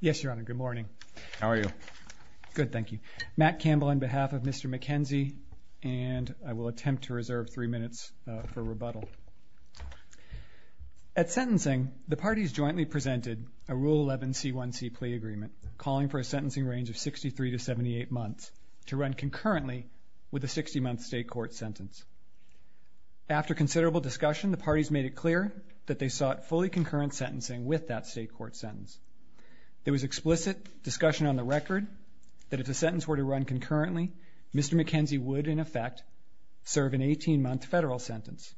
Yes, Your Honor, good morning. How are you? Good, thank you. Matt Campbell on behalf of Mr. McKenzie, and I will attempt to reserve three minutes for rebuttal. At sentencing, the parties jointly presented a Rule 11 C1C plea agreement calling for a sentencing range of 63 to 78 months to run concurrently with a 60-month state court sentence. After considerable discussion, the parties made it clear that they sought fully concurrent sentencing with that state court sentence. There was explicit discussion on the record that if the sentence were to run concurrently, Mr. McKenzie would, in effect, serve an 18-month federal sentence.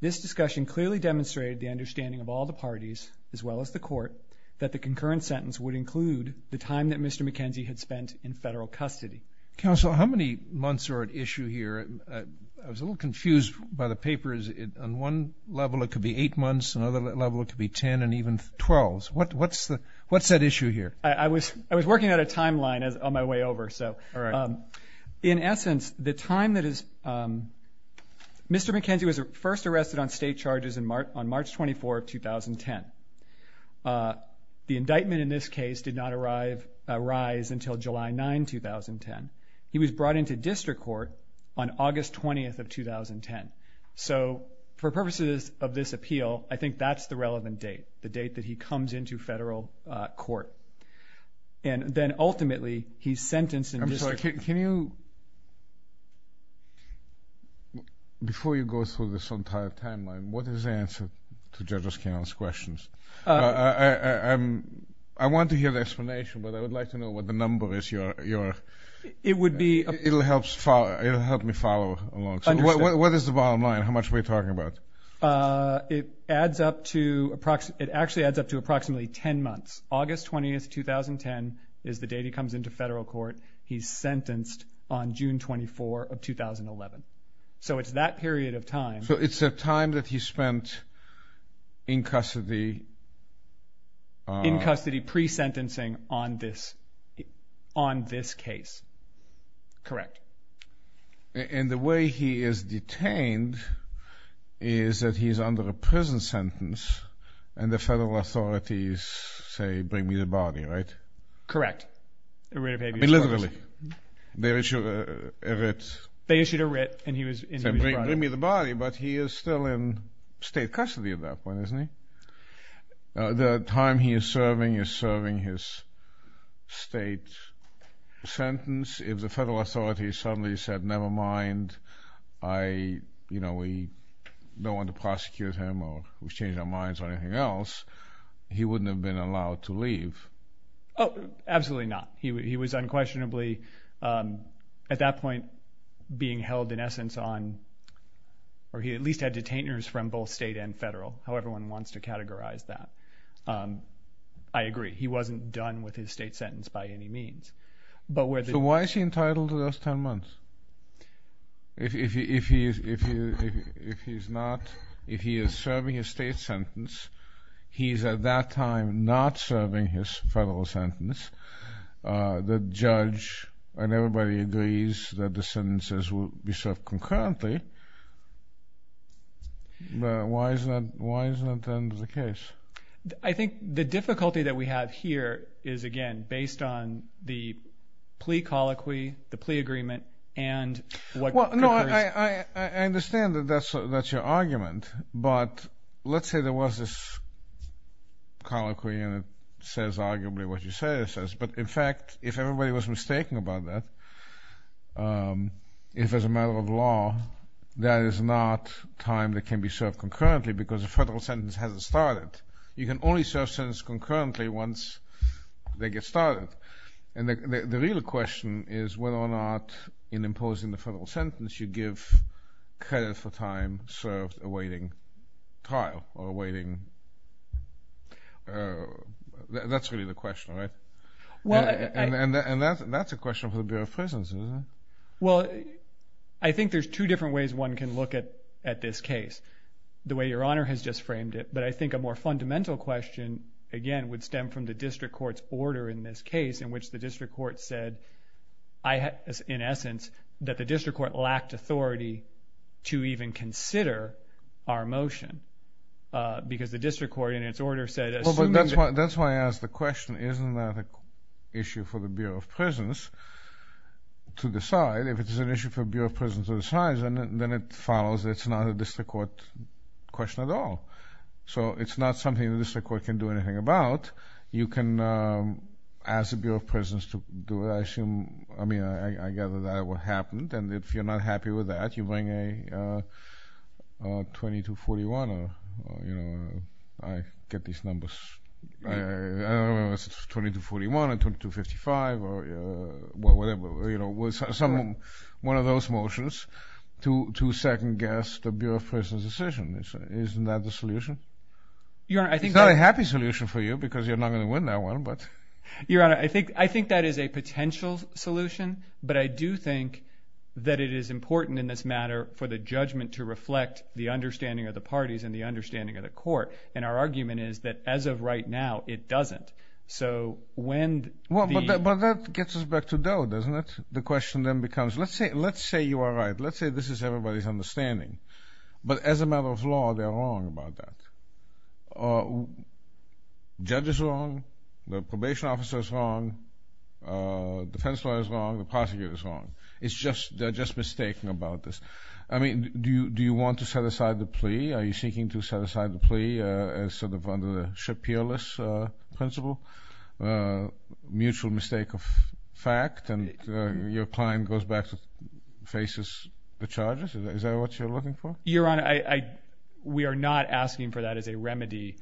This discussion clearly demonstrated the understanding of all the parties, as well as the Court, that the concurrent sentence would include the time that Mr. McKenzie had spent in federal custody. Counsel, how many months are at issue here? I was a little confused by the papers. On one level, it could be 8 months. On the other level, it could be 10 and even 12. What's at issue here? I was working out a timeline on my way over. In essence, Mr. McKenzie was first arrested on state charges on March 24, 2010. The indictment in this case did not arise until July 9, 2010. He was brought into district court on August 20, 2010. For purposes of this appeal, I think that's the relevant date, the date that he comes into federal court. Then, ultimately, he's sentenced in district court. Before you go through this entire timeline, what is the answer to Judge O'Connell's questions? I want to hear the explanation, but I would like to know what the number is. It will help me follow along. What is the bottom line? How much are we talking about? It actually adds up to approximately 10 months. August 20, 2010 is the date he comes into federal court. He's sentenced on June 24, 2011. It's that period of time. It's the time that he spent in custody. In custody, pre-sentencing on this case. Correct. The way he is detained is that he's under a prison sentence, and the federal authorities say, bring me the body, right? Correct. I mean, literally. They issued a writ. They issued a writ, and he was brought in. But he is still in state custody at that point, isn't he? The time he is serving is serving his state sentence. If the federal authorities suddenly said, never mind, we don't want to prosecute him, or we've changed our minds on anything else, he wouldn't have been allowed to leave. Absolutely not. He was unquestionably, at that point, being held in essence on, or he at least had detainers from both state and federal, however one wants to categorize that. I agree. He wasn't done with his state sentence by any means. So why is he entitled to those 10 months? If he is serving his state sentence, he is at that time not serving his federal sentence. The judge and everybody agrees that the sentences will be served concurrently, but why isn't that the case? I think the difficulty that we have here is, again, based on the plea colloquy, the plea agreement, and what concurs. I understand that that's your argument, but let's say there was this colloquy, and it says arguably what you say it says. But in fact, if everybody was mistaken about that, if as a matter of law, that is not time that can be served concurrently because the federal sentence hasn't started. You can only serve sentences concurrently once they get started. The real question is whether or not in imposing the federal sentence you give credit for time served awaiting trial or awaiting – that's really the question, right? And that's a question for the Bureau of Prisons, isn't it? Well, I think there's two different ways one can look at this case, the way Your Honor has just framed it. But I think a more fundamental question, again, would stem from the district court's order in this case in which the district court said, in essence, that the district court lacked authority to even consider our motion because the district court in its order said – That's why I asked the question, isn't that an issue for the Bureau of Prisons to decide? If it's an issue for the Bureau of Prisons to decide, then it follows it's not a district court question at all. So it's not something the district court can do anything about. You can ask the Bureau of Prisons to do it. I mean, I gather that's what happened, and if you're not happy with that, you bring a 2241 or – I get these numbers. I don't know if it's 2241 or 2255 or whatever. One of those motions to second-guess the Bureau of Prisons' decision. Isn't that the solution? It's not a happy solution for you because you're not going to win that one, but – Your Honor, I think that is a potential solution, but I do think that it is important in this matter for the judgment to reflect the understanding of the parties and the understanding of the court, and our argument is that as of right now, it doesn't. So when the – Well, but that gets us back to Doe, doesn't it? The question then becomes, let's say you are right. Let's say this is everybody's understanding, but as a matter of law, they are wrong about that. The judge is wrong. The probation officer is wrong. The defense lawyer is wrong. The prosecutor is wrong. It's just – they're just mistaken about this. I mean, do you want to set aside the plea? Are you seeking to set aside the plea as sort of under the Shapiris principle, mutual mistake of fact, and your client goes back to – faces the charges? Is that what you're looking for? Your Honor, we are not asking for that as a remedy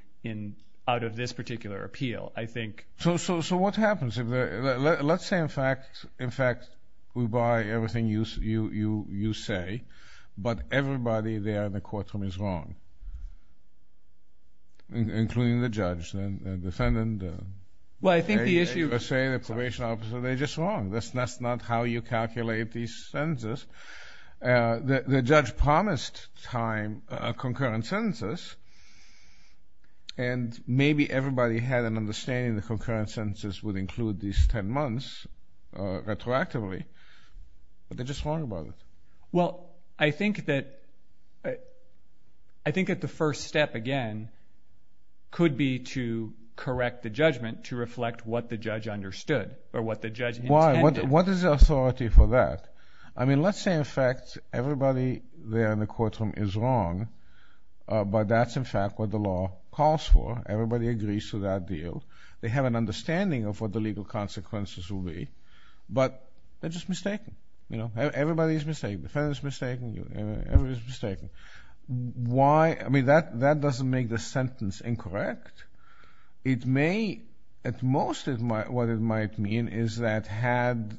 out of this particular appeal. I think – So what happens? Let's say, in fact, we buy everything you say, but everybody there in the courtroom is wrong, including the judge, the defendant. Well, I think the issue – The probation officer, they're just wrong. That's not how you calculate these sentences. The judge promised time, concurrent sentences, and maybe everybody had an understanding the concurrent sentences would include these 10 months retroactively, but they're just wrong about it. Well, I think that the first step, again, could be to correct the judgment to reflect what the judge understood or what the judge intended. Why? What is the authority for that? I mean, let's say, in fact, everybody there in the courtroom is wrong, but that's, in fact, what the law calls for. Everybody agrees to that deal. They have an understanding of what the legal consequences will be, but they're just mistaken. Everybody is mistaken. The defendant is mistaken. Everybody is mistaken. Why? I mean, that doesn't make the sentence incorrect. It may – at most, what it might mean is that had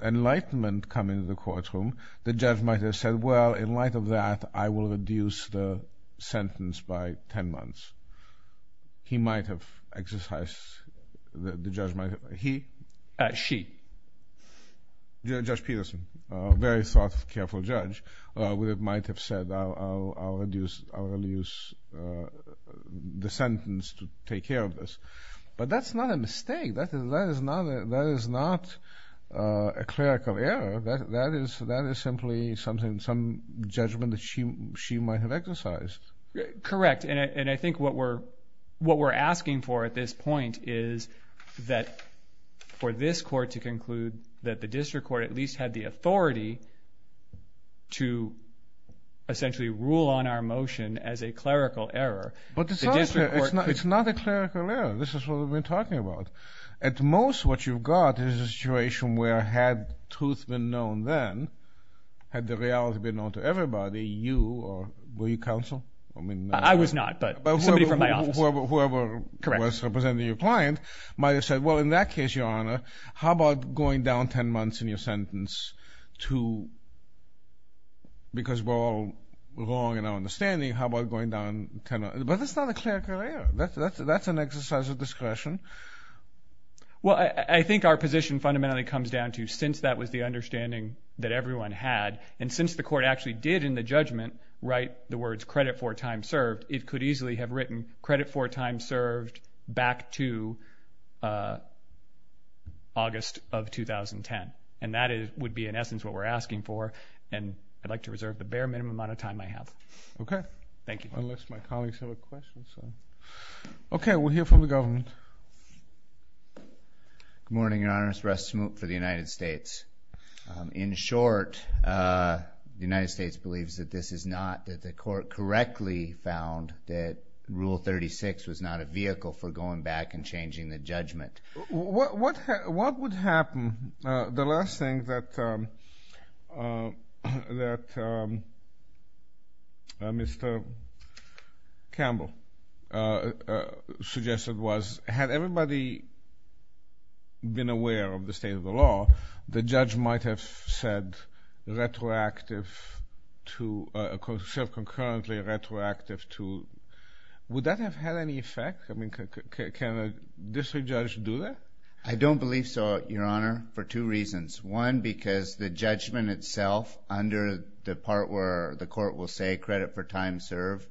enlightenment come into the courtroom, the judge might have said, well, in light of that, I will reduce the sentence by 10 months. He might have exercised – the judge might have – he? She. Judge Peterson, a very thoughtful, careful judge, would have might have said, I will reduce the sentence to take care of this. But that's not a mistake. That is not a clerical error. That is simply something – some judgment that she might have exercised. Correct, and I think what we're asking for at this point is that for this court to conclude that the district court at least had the authority to essentially rule on our motion as a clerical error. But it's not a clerical error. This is what we've been talking about. At most, what you've got is a situation where had truth been known then, had the reality been known to everybody, you or – were you counsel? I was not, but somebody from my office. Whoever was representing your client might have said, well, in that case, Your Honor, how about going down 10 months in your sentence to – because we're all wrong in our understanding. How about going down 10 – but that's not a clerical error. That's an exercise of discretion. Well, I think our position fundamentally comes down to since that was the understanding that everyone had, and since the court actually did in the judgment write the words credit for time served, it could easily have written credit for time served back to August of 2010. And that would be in essence what we're asking for, and I'd like to reserve the bare minimum amount of time I have. Okay. Thank you. Unless my colleagues have a question. Okay. We'll hear from the government. Good morning, Your Honors. Russ Smoot for the United States. In short, the United States believes that this is not – that the court correctly found that Rule 36 was not a vehicle for going back and changing the judgment. What would happen – the last thing that Mr. Campbell suggested was had everybody been aware of the state of the law, the judge might have said retroactive to – concurrently retroactive to – would that have had any effect? I mean, can a district judge do that? I don't believe so, Your Honor, for two reasons. One, because the judgment itself under the part where the court will say credit for time served,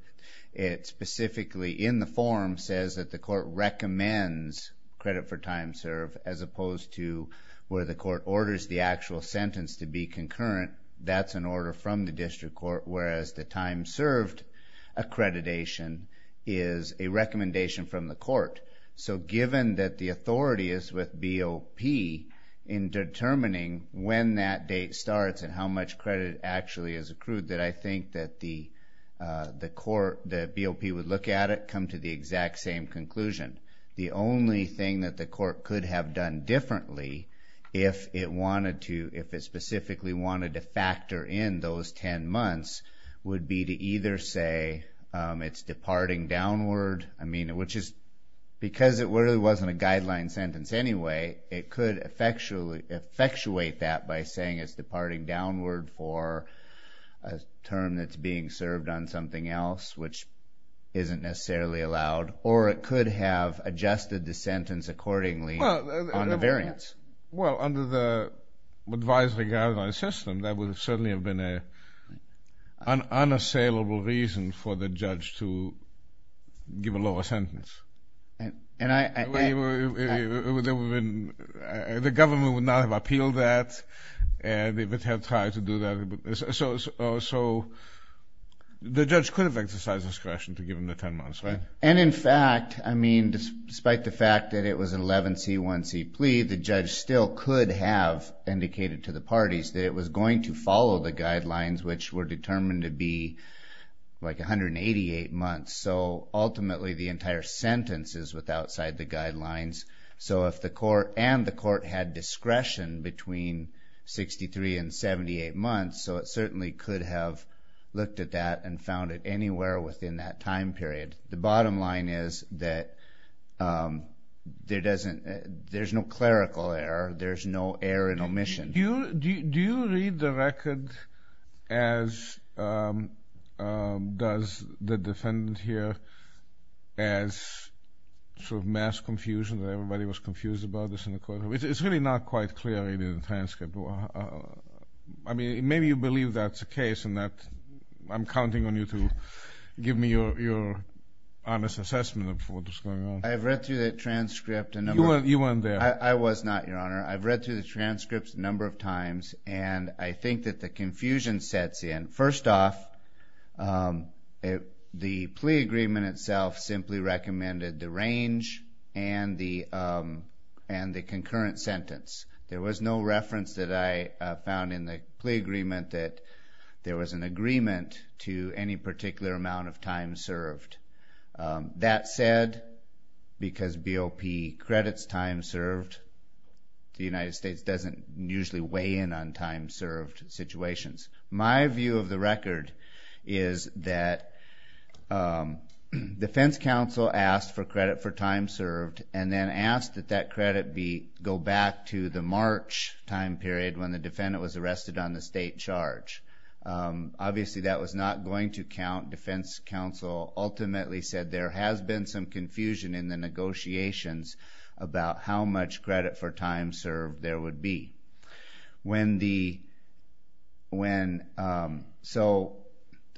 it specifically in the form says that the court recommends credit for time served as opposed to where the court orders the actual sentence to be concurrent. That's an order from the district court, whereas the time served accreditation is a recommendation from the court. So, given that the authority is with BOP in determining when that date starts and how much credit actually is accrued, then I think that the BOP would look at it, come to the exact same conclusion. The only thing that the court could have done differently if it wanted to – if it specifically wanted to factor in those 10 months would be to either say it's departing downward, I mean, which is – because it really wasn't a guideline sentence anyway, it could effectuate that by saying it's departing downward for a term that's being served on something else, which isn't necessarily allowed. Or it could have adjusted the sentence accordingly on the variance. Well, under the advisory guideline system, that would certainly have been an unassailable reason for the judge to give a lower sentence. The government would not have appealed that. They would have tried to do that. So, the judge could have exercised discretion to give him the 10 months, right? And in fact, I mean, despite the fact that it was an 11C1C plea, the judge still could have indicated to the parties that it was going to follow the guidelines, which were determined to be like 188 months. So, ultimately, the entire sentence is with outside the guidelines. So, if the court and the court had discretion between 63 and 78 months, so it certainly could have looked at that and found it anywhere within that time period. The bottom line is that there's no clerical error. There's no error in omission. Do you read the record as does the defendant here as sort of mass confusion, that everybody was confused about this in the courtroom? It's really not quite clear in the transcript. I mean, maybe you believe that's the case and that I'm counting on you to give me your honest assessment of what was going on. I've read through the transcript a number of times. You weren't there. I was not, Your Honor. I've read through the transcripts a number of times, and I think that the confusion sets in. First off, the plea agreement itself simply recommended the range and the concurrent sentence. There was no reference that I found in the plea agreement that there was an agreement to any particular amount of time served. That said, because BOP credits time served, the United States doesn't usually weigh in on time served situations. My view of the record is that defense counsel asked for credit for time served, and then asked that that credit go back to the March time period when the defendant was arrested on the state charge. Obviously, that was not going to count. Defense counsel ultimately said there has been some confusion in the negotiations about how much credit for time served there would be. So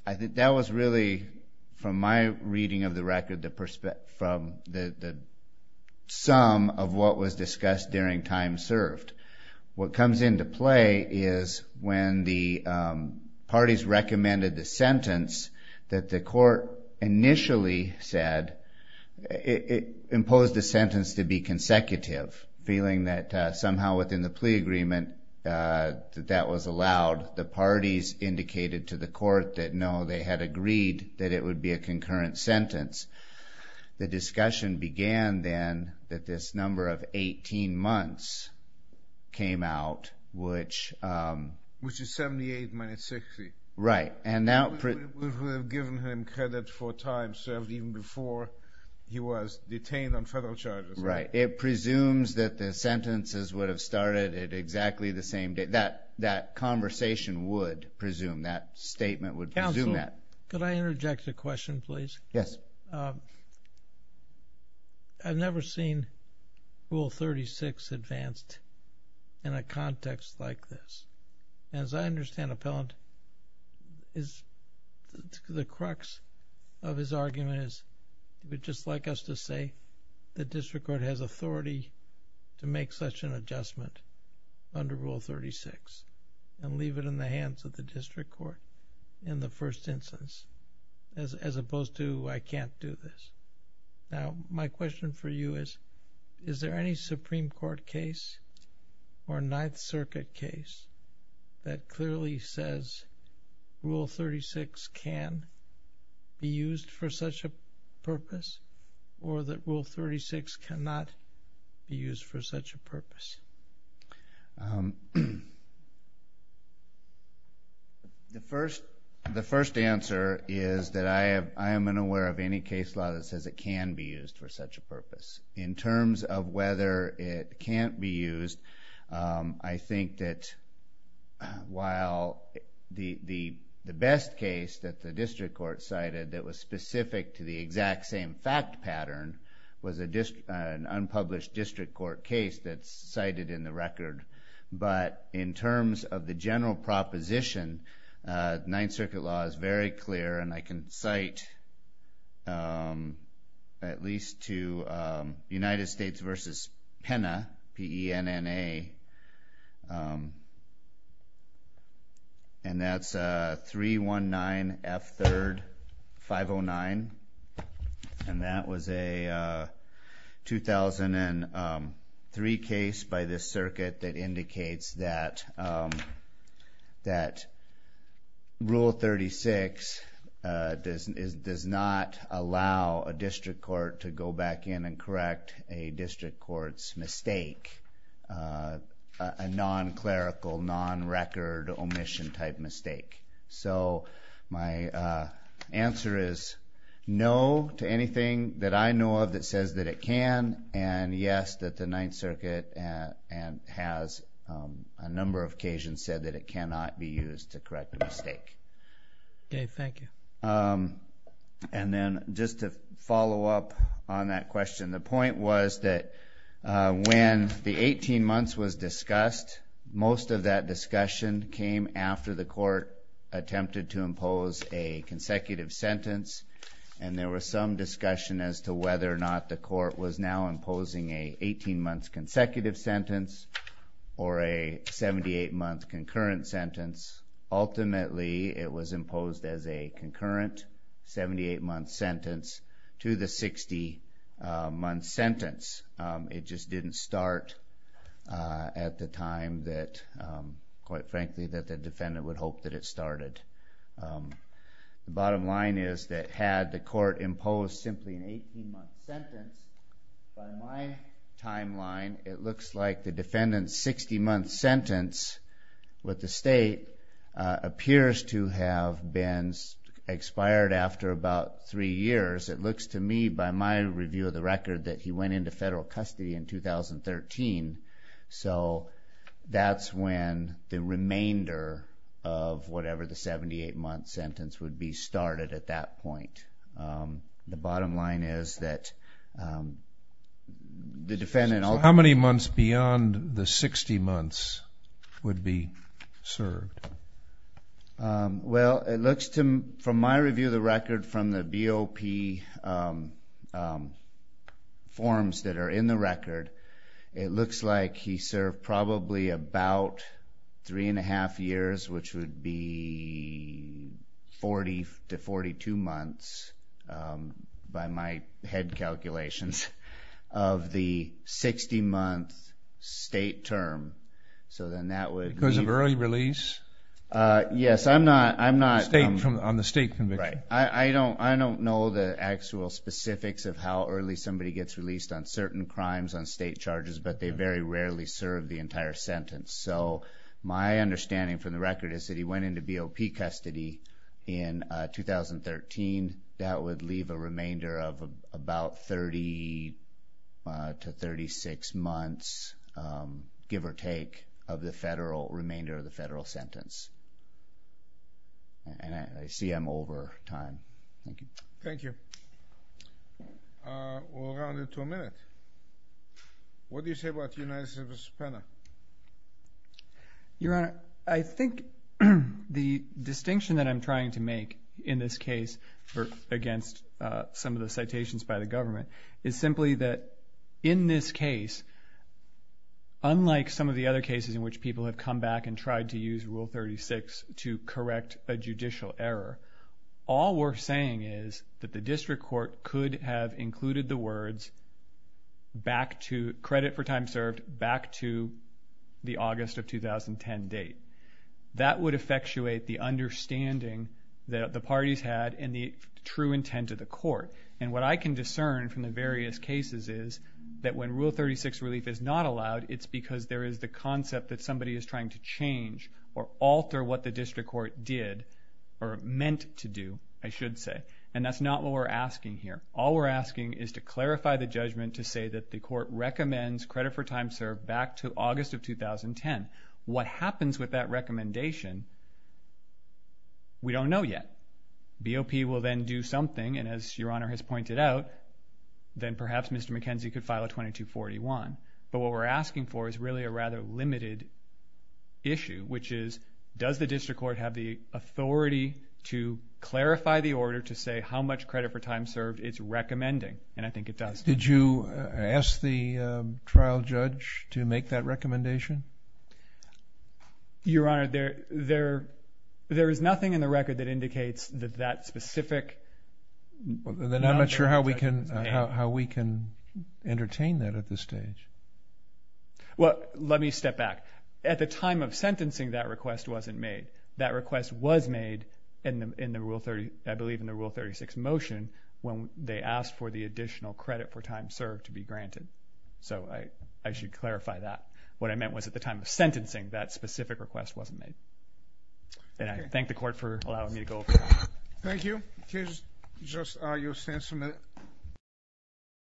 I think that was really, from my reading of the record, the sum of what was discussed during time served. What comes into play is when the parties recommended the sentence that the court initially said, it imposed the sentence to be consecutive, feeling that somehow within the plea agreement that that was allowed. The parties indicated to the court that no, they had agreed that it would be a concurrent sentence. The discussion began then that this number of 18 months came out, which... Which is 78 minus 60. Right. We would have given him credit for time served even before he was detained on federal charges. Right. It presumes that the sentences would have started at exactly the same date. That conversation would presume, that statement would presume that. Counsel, could I interject a question, please? Yes. I've never seen Rule 36 advanced in a context like this. As I understand Appellant, the crux of his argument is, he would just like us to say the district court has authority to make such an adjustment under Rule 36 and leave it in the hands of the district court in the first instance, as opposed to I can't do this. Now, my question for you is, is there any Supreme Court case or Ninth Circuit case that clearly says Rule 36 can be used for such a purpose or that Rule 36 cannot be used for such a purpose? The first answer is that I am unaware of any case law that says it can be used for such a purpose. In terms of whether it can't be used, I think that while the best case that the district court cited that was specific to the exact same fact pattern was an unpublished district court case that's cited in the record. But in terms of the general proposition, Ninth Circuit law is very clear, and I can cite at least to United States v. Pena, P-E-N-N-A, and that's 319F3-509, and that was a 2003 case by this circuit that indicates that Rule 36 does not allow a district court to go back in and correct a district court's mistake, a non-clerical, non-record omission type mistake. So my answer is no to anything that I know of that says that it can, and yes that the Ninth Circuit has a number of occasions said that it cannot be used to correct a mistake. Okay, thank you. And then just to follow up on that question, the point was that when the 18 months was discussed, most of that discussion came after the court attempted to impose a consecutive sentence, and there was some discussion as to whether or not the court was now imposing an 18-month consecutive sentence or a 78-month concurrent sentence. Ultimately it was imposed as a concurrent 78-month sentence to the 60-month sentence. It just didn't start at the time that, quite frankly, that the defendant would hope that it started. The bottom line is that had the court imposed simply an 18-month sentence, by my timeline it looks like the defendant's 60-month sentence with the state appears to have been expired after about three years. It looks to me by my review of the record that he went into federal custody in 2013, so that's when the remainder of whatever the 78-month sentence would be started at that point. The bottom line is that the defendant ultimately... So how many months beyond the 60 months would be served? Well, it looks to me from my review of the record from the BOP forms that are in the record, it looks like he served probably about three and a half years, which would be 40 to 42 months by my head calculations of the 60-month state term. So then that would be... Because of early release? Yes, I'm not... On the state conviction. Right. I don't know the actual specifics of how early somebody gets released on certain crimes on state charges, but they very rarely serve the entire sentence. So my understanding from the record is that he went into BOP custody in 2013. That would leave a remainder of about 30 to 36 months, give or take, of the federal remainder of the federal sentence. And I see I'm over time. Thank you. Thank you. We'll round it to a minute. What do you say about United States v. Penna? Your Honor, I think the distinction that I'm trying to make in this case against some of the citations by the government is simply that in this case, unlike some of the other cases in which people have come back and tried to use Rule 36 to correct a judicial error, all we're saying is that the district court could have included the words credit for time served back to the August of 2010 date. That would effectuate the understanding that the parties had and the true intent of the court. And what I can discern from the various cases is that when Rule 36 relief is not allowed, it's because there is the concept that somebody is trying to change or alter what the district court did or meant to do, I should say. And that's not what we're asking here. All we're asking is to clarify the judgment to say that the court recommends credit for time served back to August of 2010. What happens with that recommendation, we don't know yet. BOP will then do something, and as Your Honor has pointed out, then perhaps Mr. McKenzie could file a 2241. But what we're asking for is really a rather limited issue, which is does the district court have the authority to clarify the order to say how much credit for time served it's recommending? And I think it does. Did you ask the trial judge to make that recommendation? Your Honor, there is nothing in the record that indicates that that specific Then I'm not sure how we can entertain that at this stage. Well, let me step back. At the time of sentencing, that request wasn't made. That request was made, I believe, in the Rule 36 motion when they asked for the additional credit for time served to be granted. So I should clarify that. What I meant was at the time of sentencing, that specific request wasn't made. And I thank the Court for allowing me to go. Thank you. You'll stand for a minute.